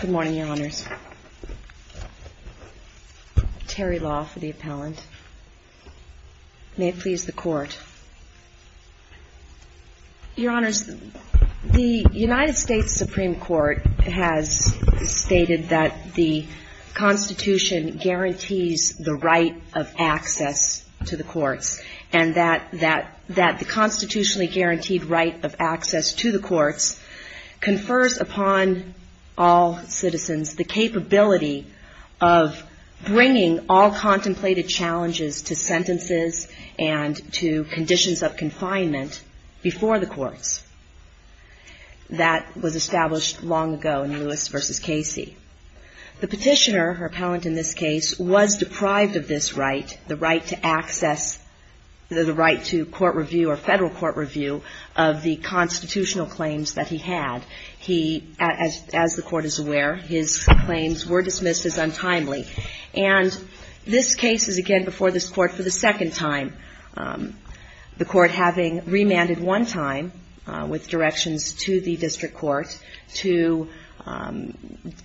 Good morning, Your Honors. Terry Law for the appellant. May it please the Court. Your Honors, the United States Supreme Court has stated that the Constitution guarantees the right of access to the courts, and that the constitutionally guaranteed right of access to the courts confers upon all citizens the capability of bringing all contemplated challenges to sentences and to conditions of confinement before the courts. That was established long ago in Lewis v. Casey. The petitioner, her appellant in this case, was deprived of this right, the right to access, the right to court review or federal court review of the constitutional claims that he had. He, as the Court is aware, his claims were dismissed as untimely. And this case is again before this Court. And the Court has not yet submitted a petition to the district court to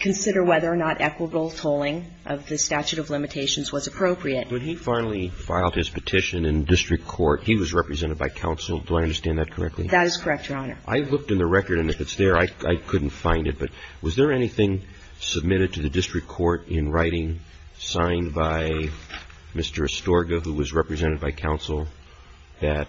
consider whether or not equitable tolling of the statute of limitations was appropriate. When he finally filed his petition in district court, he was represented by counsel. Do I understand that correctly? That is correct, Your Honor. I looked in the record, and if it's there, I couldn't find it. But was there anything submitted to the district court in writing signed by Mr. Astorga, who was represented by counsel, that,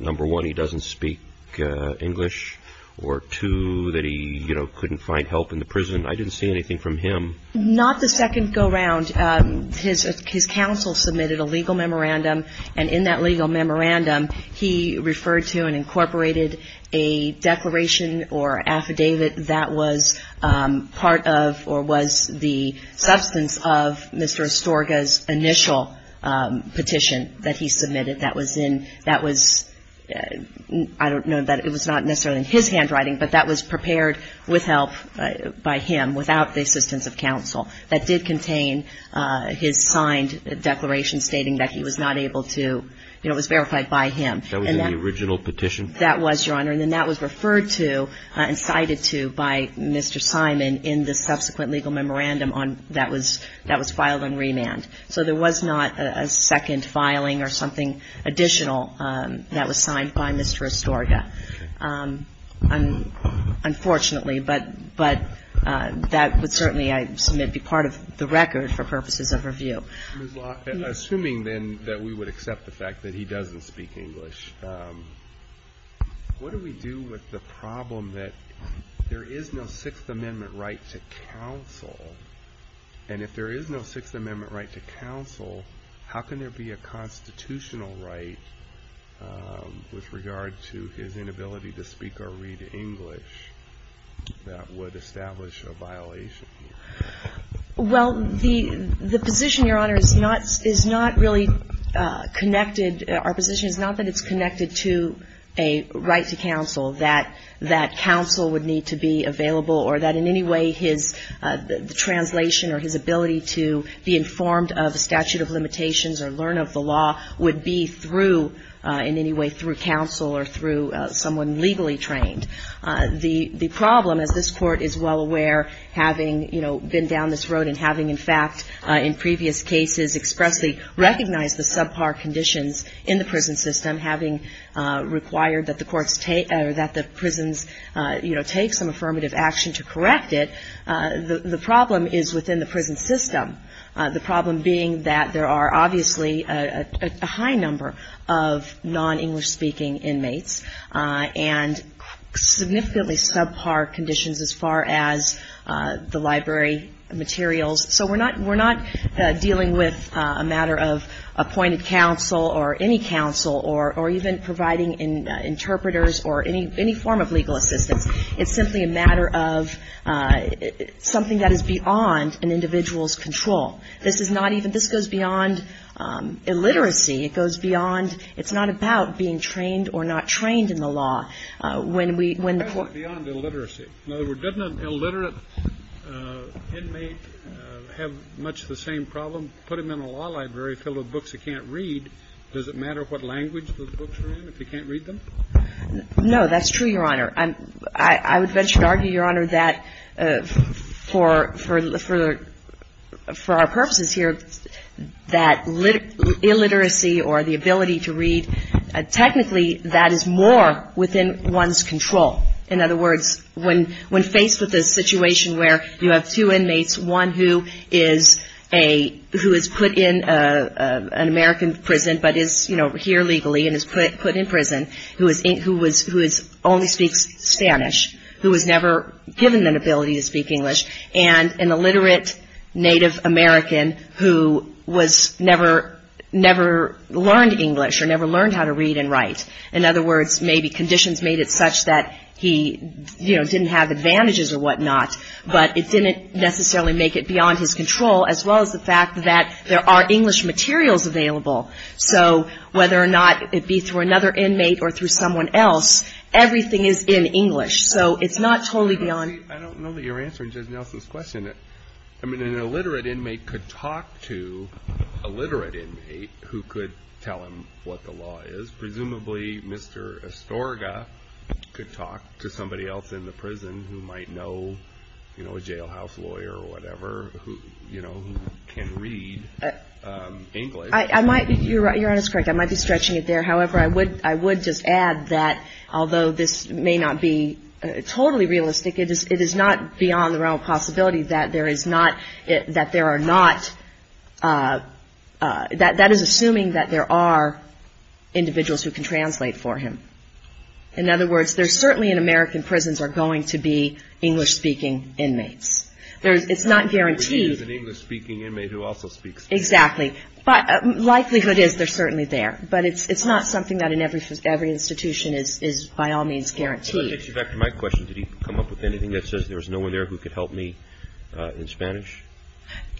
number one, he doesn't speak English, or, two, that he couldn't find help in the prison? I didn't see anything from him. Not the second go-round. His counsel submitted a legal memorandum, and in that legal memorandum, he referred to and incorporated a petition that he submitted that was in, that was, I don't know, that it was not necessarily in his handwriting, but that was prepared with help by him, without the assistance of counsel, that did contain his signed declaration stating that he was not able to, you know, it was verified by him. That was in the original petition? That was, Your Honor. And then that was referred to and cited to by Mr. Simon in the subsequent legal memorandum on, that was, that was filed in remand. So there was not a second filing or something additional that was signed by Mr. Astorga. Unfortunately, but that would certainly, I submit, be part of the record for purposes of review. Ms. Law, assuming then that we would accept the fact that he doesn't speak English, what do we do with the problem that there is no Sixth Amendment right to counsel? And if there is no Sixth Amendment right to counsel, how can there be a constitutional right with regard to his inability to speak or read English that would establish a violation? Well, the, the position, Your Honor, is not, is not really connected, our position is not that it's connected to a right to counsel, that, that in any way his translation or his ability to be informed of statute of limitations or learn of the law would be through, in any way, through counsel or through someone legally trained. The, the problem, as this Court is well aware, having, you know, been down this road and having, in fact, in previous cases, expressly recognized the subpar conditions in the prison system, having required that the courts take, or that the prisons, you know, take some affirmative action to correct it, the, the problem is within the prison system. The problem being that there are obviously a, a high number of non-English speaking inmates and significantly subpar conditions as far as the library materials. So we're not, we're not dealing with a matter of appointed counsel or any counsel or, or even providing interpreters or any, any form of legal assistance. It's simply a matter of something that is beyond an individual's control. This is not even, this goes beyond illiteracy. It goes beyond, it's not about being trained or not trained in the law. When we, when the court ---- The question is beyond illiteracy. In other words, doesn't an illiterate inmate have much the same problem? Put him in a law library filled with books he can't read, does it matter what language those books are in if he can't read them? No, that's true, Your Honor. I'm, I would venture to argue, Your Honor, that for, for, for our purposes here, that illiteracy or the ability to read, technically that is more within one's control. In other words, when, when faced with a situation where you have two inmates, one who is a, who is put in a, a, an American prison but is, you know, here legally and is put, put in prison, who is, who was, who is, only speaks Spanish, who was never given an ability to speak English, and an illiterate Native American who was never, never learned English or never learned how to read and write. In other words, maybe conditions made it such that he, you know, didn't have advantages or whatnot, but it didn't necessarily make it beyond his control, as well as the fact that there are English materials available. So whether or not it be through another inmate or through someone else, everything is in English. So it's not totally beyond. I don't know that you're answering Judge Nelson's question. I mean, an illiterate inmate could talk to a literate inmate who could tell him what the law is. Presumably Mr. Estorga could talk to somebody else in the prison who might know, you know, a jailhouse lawyer or whatever who, you know, can read English. I might, you're, you're honest, correct. I might be stretching it there. However, I would, I would just add that although this may not be totally realistic, it is, it is not beyond the realm of possibility that there is not, that there are not, that, that is assuming that there are individuals who can translate for him. In other words, there's certainly in American prisons are going to be English speaking inmates. There's, it's not guaranteed. There's an English speaking inmate who also speaks English. Exactly. But likelihood is they're certainly there. But it's, it's not something that in every, every institution is, is by all means guaranteed. Well, that takes you back to my question. Did he come up with anything that says there was no one there who could help me in Spanish?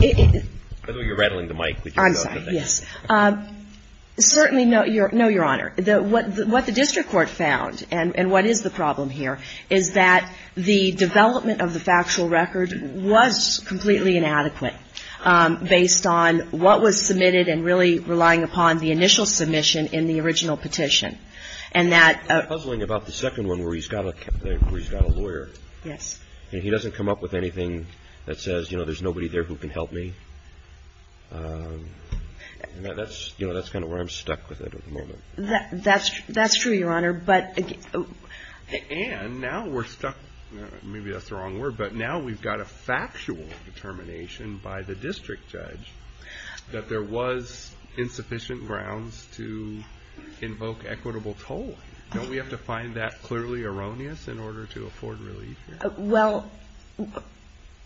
It. By the way, you're rattling the mic. I'm sorry. Yes. Certainly, no, your, no, Your Honor. The, what, what the district court found and, and what is the problem here is that the development of the factual record was completely inadequate based on what was submitted and really relying upon the initial submission in the original petition. And that. I'm puzzling about the second one where he's got a, where he's got a lawyer. Yes. And he doesn't come up with anything that says, you know, there's nobody there who can help me. And that's, you know, that's kind of where I'm stuck with it at the moment. That, that's, that's true, Your Honor. But. And now we're stuck, maybe that's the wrong word, but now we've got a factual determination by the district judge that there was insufficient grounds to invoke equitable toll. Don't we have to find that clearly erroneous in order to afford relief here? Well,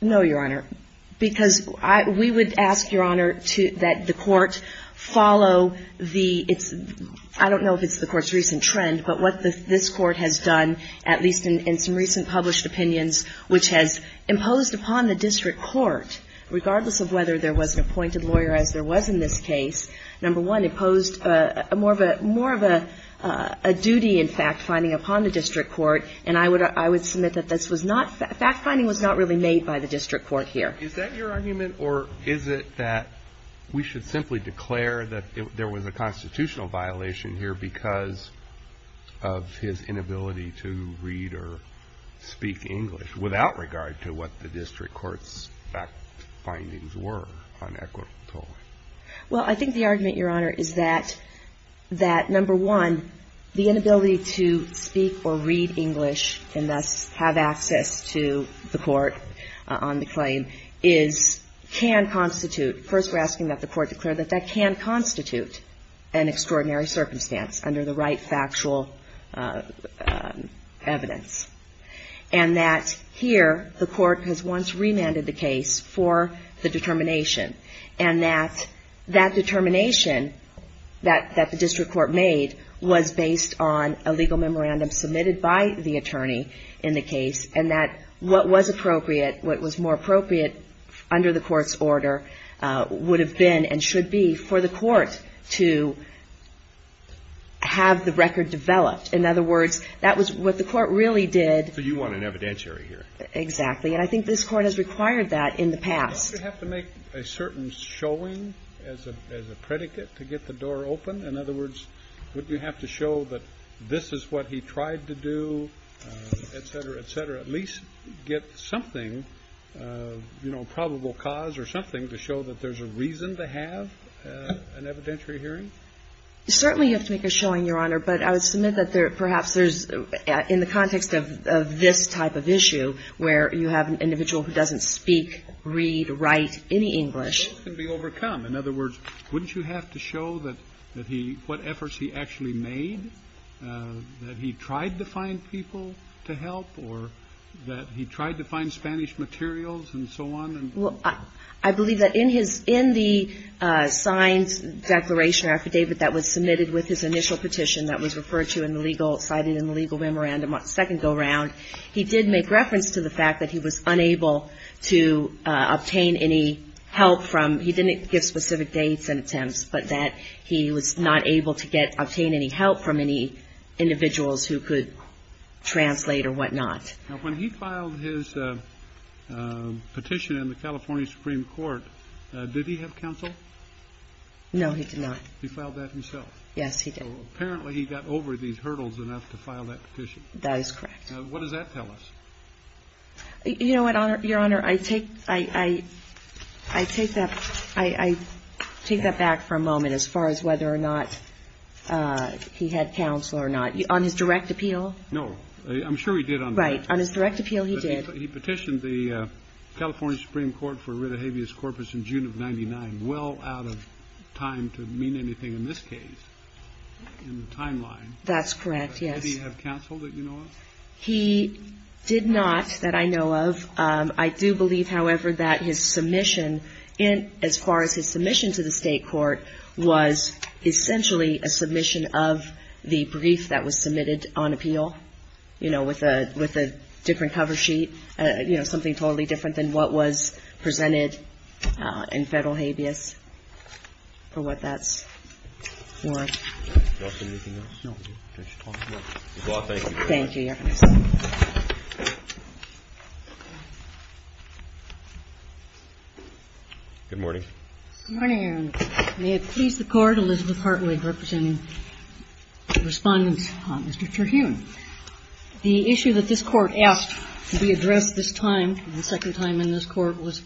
no, Your Honor, because I, we would ask, Your Honor, to, that the court follow the, it's, I don't know if it's the court's recent trend, but what the, this court has done, at least in, in some recent published opinions, which has imposed upon the district court, regardless of whether there was an appointed lawyer, as there was in this case, number one, imposed a more of a, more of a, a duty in fact finding upon the district court. And I would, I would submit that this was not, fact finding was not really made by the district court here. Is that your argument, or is it that we should simply declare that there was a constitutional violation here because of his inability to read or speak English without regard to what the district court's fact findings were on equitable toll? Well, I think the argument, Your Honor, is that, that number one, the inability to speak or read English and thus have access to the court on the claim is, can constitute, first we're asking that the court declare that that can constitute an extraordinary circumstance under the right factual evidence. And that here, the court has once remanded the case for the determination. And that, that determination that, that the district court made was based on a legal memorandum submitted by the attorney in the case, and that what was appropriate, what was more appropriate under the court's order would have been and should be for the court to have the record developed. In other words, that was what the court really did. So you want an evidentiary here? Exactly. And I think this court has required that in the past. Don't you have to make a certain showing as a, as a predicate to get the door open? In other words, wouldn't you have to show that this is what he tried to do, et cetera, et cetera, at least get something, you know, probable cause or something to show that there's a reason to have an evidentiary hearing? Certainly you have to make a showing, Your Honor, but I would submit that perhaps there's, in the context of this type of issue where you have an individual who doesn't speak, read, write any English. That can be overcome. In other words, wouldn't you have to show that he, what efforts he actually made, that he tried to find people to help or that he tried to find Spanish materials and so on? Well, I believe that in his, in the signed declaration or affidavit that was submitted with his initial petition that was referred to in the legal, cited in the legal memorandum on the second go-round, he did make reference to the fact that he was unable to obtain any help from, he didn't give specific dates and attempts, but that he was not able to get, obtain any help from any individuals who could translate or whatnot. Now, when he filed his petition in the California Supreme Court, did he have counsel? No, he did not. He filed that himself? Yes, he did. Well, apparently he got over these hurdles enough to file that petition. That is correct. Now, what does that tell us? You know what, Your Honor? I take, I take that, I take that back for a moment as far as whether or not he had counsel or not. On his direct appeal? No. I'm sure he did on that. Right. On his direct appeal, he did. But he petitioned the California Supreme Court for writ of habeas corpus in June of 99, well out of time to mean anything in this case, in the timeline. That's correct, yes. Did he have counsel that you know of? He did not that I know of. I do believe, however, that his submission in, as far as his submission to the state court, was essentially a submission of the brief that was submitted on appeal, you know, with a different cover sheet, you know, something totally different than what was presented in federal habeas for what that's worth. Do you want to say anything else? No. Well, thank you very much. Thank you, Your Honor. Good morning. Good morning, Your Honor. May it please the Court, Elizabeth Hartwig representing the Respondents on Mr. Terhune. The issue that this Court asked to be addressed this time and the second time in this Court was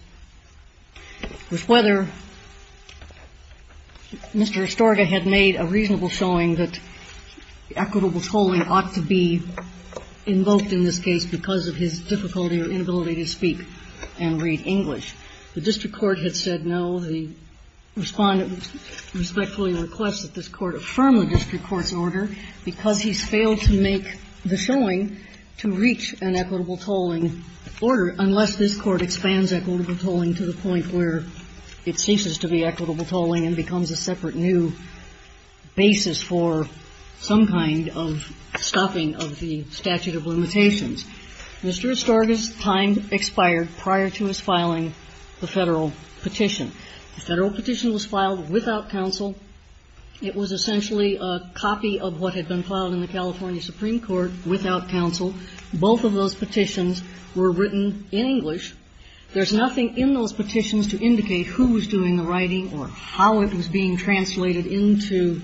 whether Mr. Estorga had made a reasonable showing that equitable tolling ought to be invoked in this case because of his difficulty or inability to speak and read English. The district court had said no. The Respondent respectfully requests that this Court affirm the district court's order because he's failed to make the showing to reach an equitable tolling order unless this Court expands equitable tolling to the point where it ceases to be equitable tolling and becomes a separate new basis for some kind of stopping of the statute of limitations. Mr. Estorga's time expired prior to his filing the federal petition. The federal petition was filed without counsel. It was essentially a copy of what had been filed in the California Supreme Court without counsel. Both of those petitions were written in English. There's nothing in those petitions to indicate who was doing the writing or how it was being translated into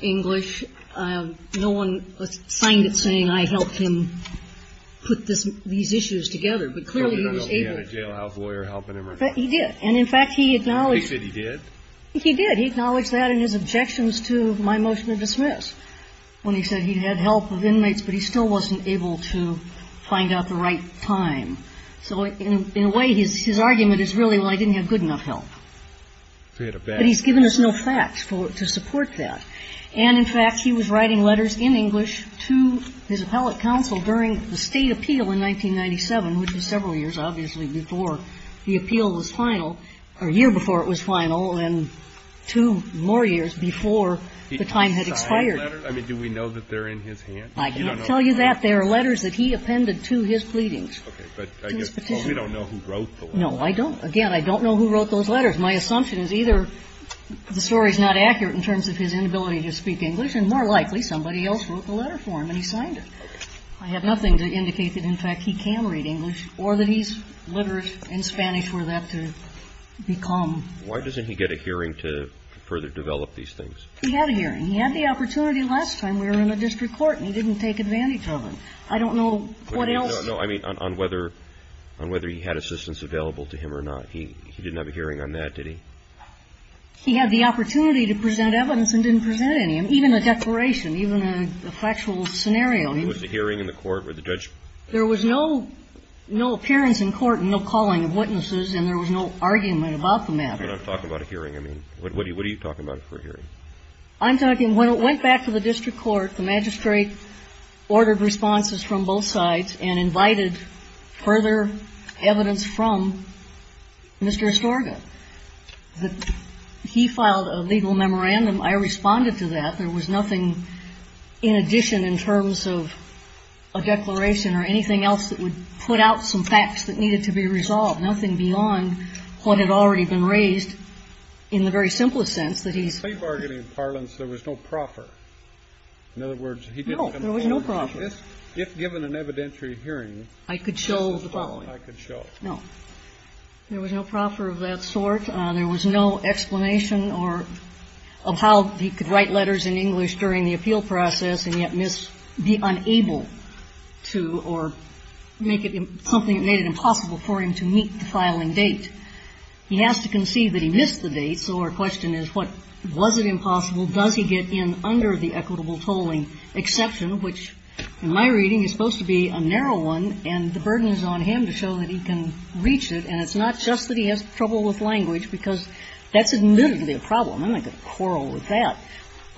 English. No one signed it saying, I helped him put these issues together. But clearly he was able to. He had a jailhouse lawyer helping him. He did. And, in fact, he acknowledged that. He said he did? He did. He acknowledged that in his objections to my motion to dismiss when he said he had help of inmates, but he still wasn't able to find out the right time. So in a way, his argument is really, well, I didn't have good enough help. But he's given us no facts to support that. And, in fact, he was writing letters in English to his appellate counsel during the State appeal in 1997, which was several years, obviously, before the appeal was final, or a year before it was final, and two more years before the time had expired. I mean, do we know that they're in his hand? I can't tell you that. They are letters that he appended to his pleadings. Okay. But I guess we don't know who wrote those. No, I don't. Again, I don't know who wrote those letters. My assumption is either the story is not accurate in terms of his inability to speak English, and more likely somebody else wrote the letter for him, and he signed it. I have nothing to indicate that, in fact, he can read English or that he's literate in Spanish for that to become. Why doesn't he get a hearing to further develop these things? He had a hearing. He had the opportunity last time. We were in a district court, and he didn't take advantage of it. I don't know what else. No, I mean on whether he had assistance available to him or not. He didn't have a hearing on that, did he? He had the opportunity to present evidence and didn't present any, even a declaration, even a factual scenario. Was the hearing in the court where the judge? There was no appearance in court and no calling of witnesses, and there was no argument about the matter. But I'm talking about a hearing. I mean, what are you talking about for a hearing? I'm talking when it went back to the district court, the magistrate ordered responses from both sides and invited further evidence from Mr. Estorga. He filed a legal memorandum. I responded to that. There was nothing in addition in terms of a declaration or anything else that would put out some facts that needed to be resolved, nothing beyond what had already been raised in the very simplest sense that he's ---- Say bargaining in parlance, there was no proffer. In other words, he didn't come forward. No, there was no proffer. If given an evidentiary hearing ---- I could show the following. I could show it. No. There was no proffer of that sort. There was no explanation or of how he could write letters in English during the appeal process and yet miss, be unable to or make it something that made it impossible for him to meet the filing date. He has to conceive that he missed the date, so our question is what? Was it impossible? Well, does he get in under the equitable tolling exception, which in my reading is supposed to be a narrow one and the burden is on him to show that he can reach it and it's not just that he has trouble with language because that's admittedly a problem. I'm not going to quarrel with that.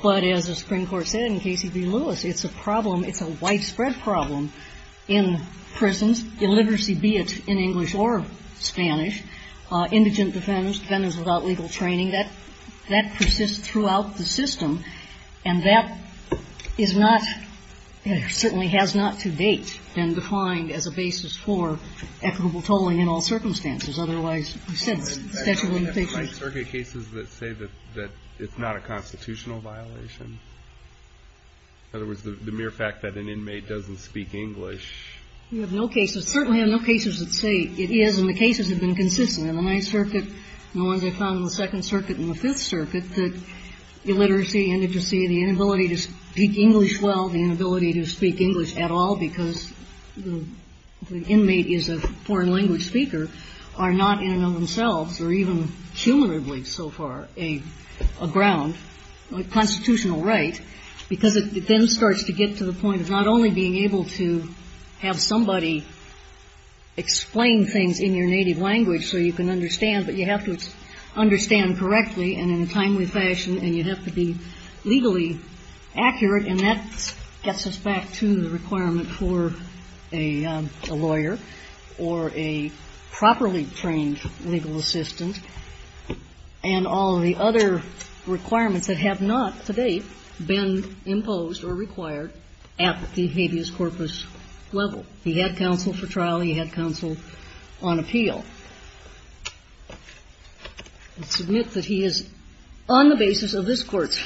But as the Supreme Court said in Casey v. Lewis, it's a problem, it's a widespread problem in prisons, illiteracy, be it in English or Spanish, indigent defenders, defendants without legal training, that persists throughout the system and that is not, certainly has not to date been defined as a basis for equitable tolling in all circumstances. Otherwise, we said statute of limitations. I mean, you have Ninth Circuit cases that say that it's not a constitutional violation. In other words, the mere fact that an inmate doesn't speak English. We have no cases, certainly have no cases that say it is and the cases have been consistent in the Ninth Circuit and the ones I found in the Second Circuit and the Fifth Circuit that illiteracy, indigency, the inability to speak English well, the inability to speak English at all because the inmate is a foreign language speaker are not in and of themselves or even cumulatively so far a ground, a constitutional right, because it then starts to get to the point of not only being able to have somebody explain things in your native language so you can understand, but you have to understand correctly and in a timely fashion and you have to be legally accurate and that gets us back to the requirement for a lawyer or a properly trained legal assistant and all of the other requirements that have not to date been imposed or required at the habeas corpus level. He had counsel for trial. He had counsel on appeal. I submit that he is, on the basis of this Court's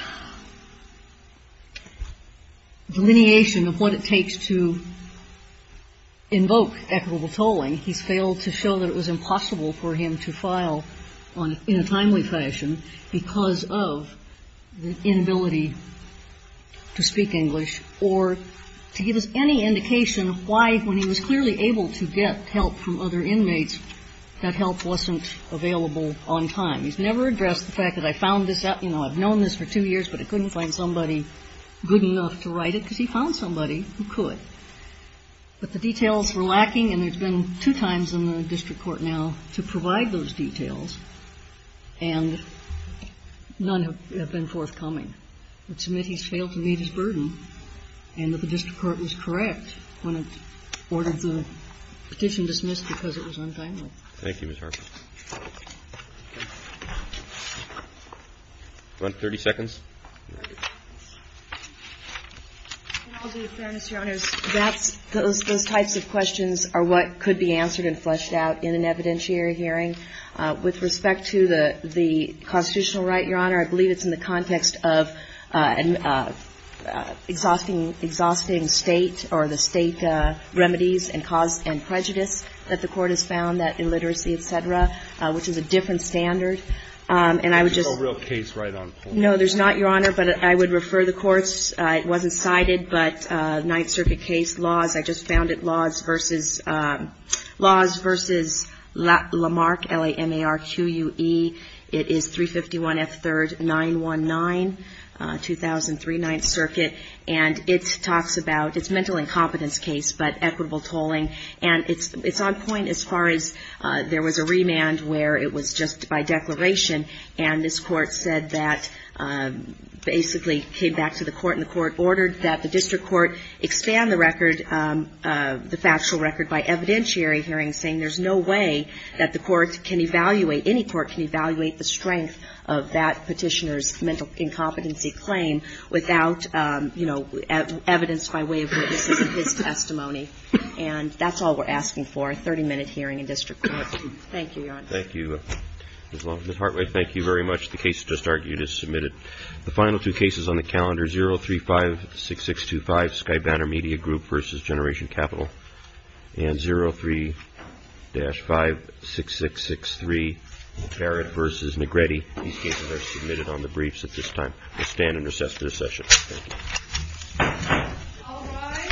delineation of what it takes to invoke equitable tolling, he's failed to show that it was impossible for him to file in a timely fashion because of the inability to speak English or to give us any indication of why, when he was clearly able to get help from other inmates, that help wasn't available on time. He's never addressed the fact that I found this out. You know, I've known this for two years, but I couldn't find somebody good enough to write it because he found somebody who could, but the details were lacking and there's been two times in the district court now to provide those details and none have been forthcoming. I submit he's failed to meet his burden and that the district court was correct when it ordered the petition dismissed because it was untimely. Thank you, Ms. Harper. You want 30 seconds? I'll do it, Your Honor. Those types of questions are what could be answered and fleshed out in an evidentiary hearing. With respect to the constitutional right, Your Honor, I believe it's in the context of an exhausting State or the State remedies and cause and prejudice that the court has found, that illiteracy, et cetera, which is a different standard. And I would just ---- There's no real case right on point. No, there's not, Your Honor, but I would refer the courts. It wasn't cited, but Ninth Circuit case laws, I just found it, laws versus Lamarck, L-A-M-A-R-Q-U-E. It is 351 F. 3rd, 919, 2003 Ninth Circuit. And it talks about, it's a mental incompetence case, but equitable tolling. And it's on point as far as there was a remand where it was just by declaration and this Court said that basically came back to the Court and the Court ordered that the district court expand the record, the factual record by evidentiary hearing saying there's no way that the court can evaluate, any court can evaluate the strength of that petitioner's mental incompetency claim without, you know, evidence by way of witnesses in his testimony. And that's all we're asking for, a 30-minute hearing in district court. Thank you, Your Honor. Thank you, Ms. Long. Ms. Hartway, thank you very much. The case just argued is submitted. The final two cases on the calendar, 035-6625, Sky Banner Media Group versus Generation Capital, and 03-56663, Barrett versus Negrete. These cases are submitted on the briefs at this time. We'll stand and recess for this session. Thank you. All rise. Thank you.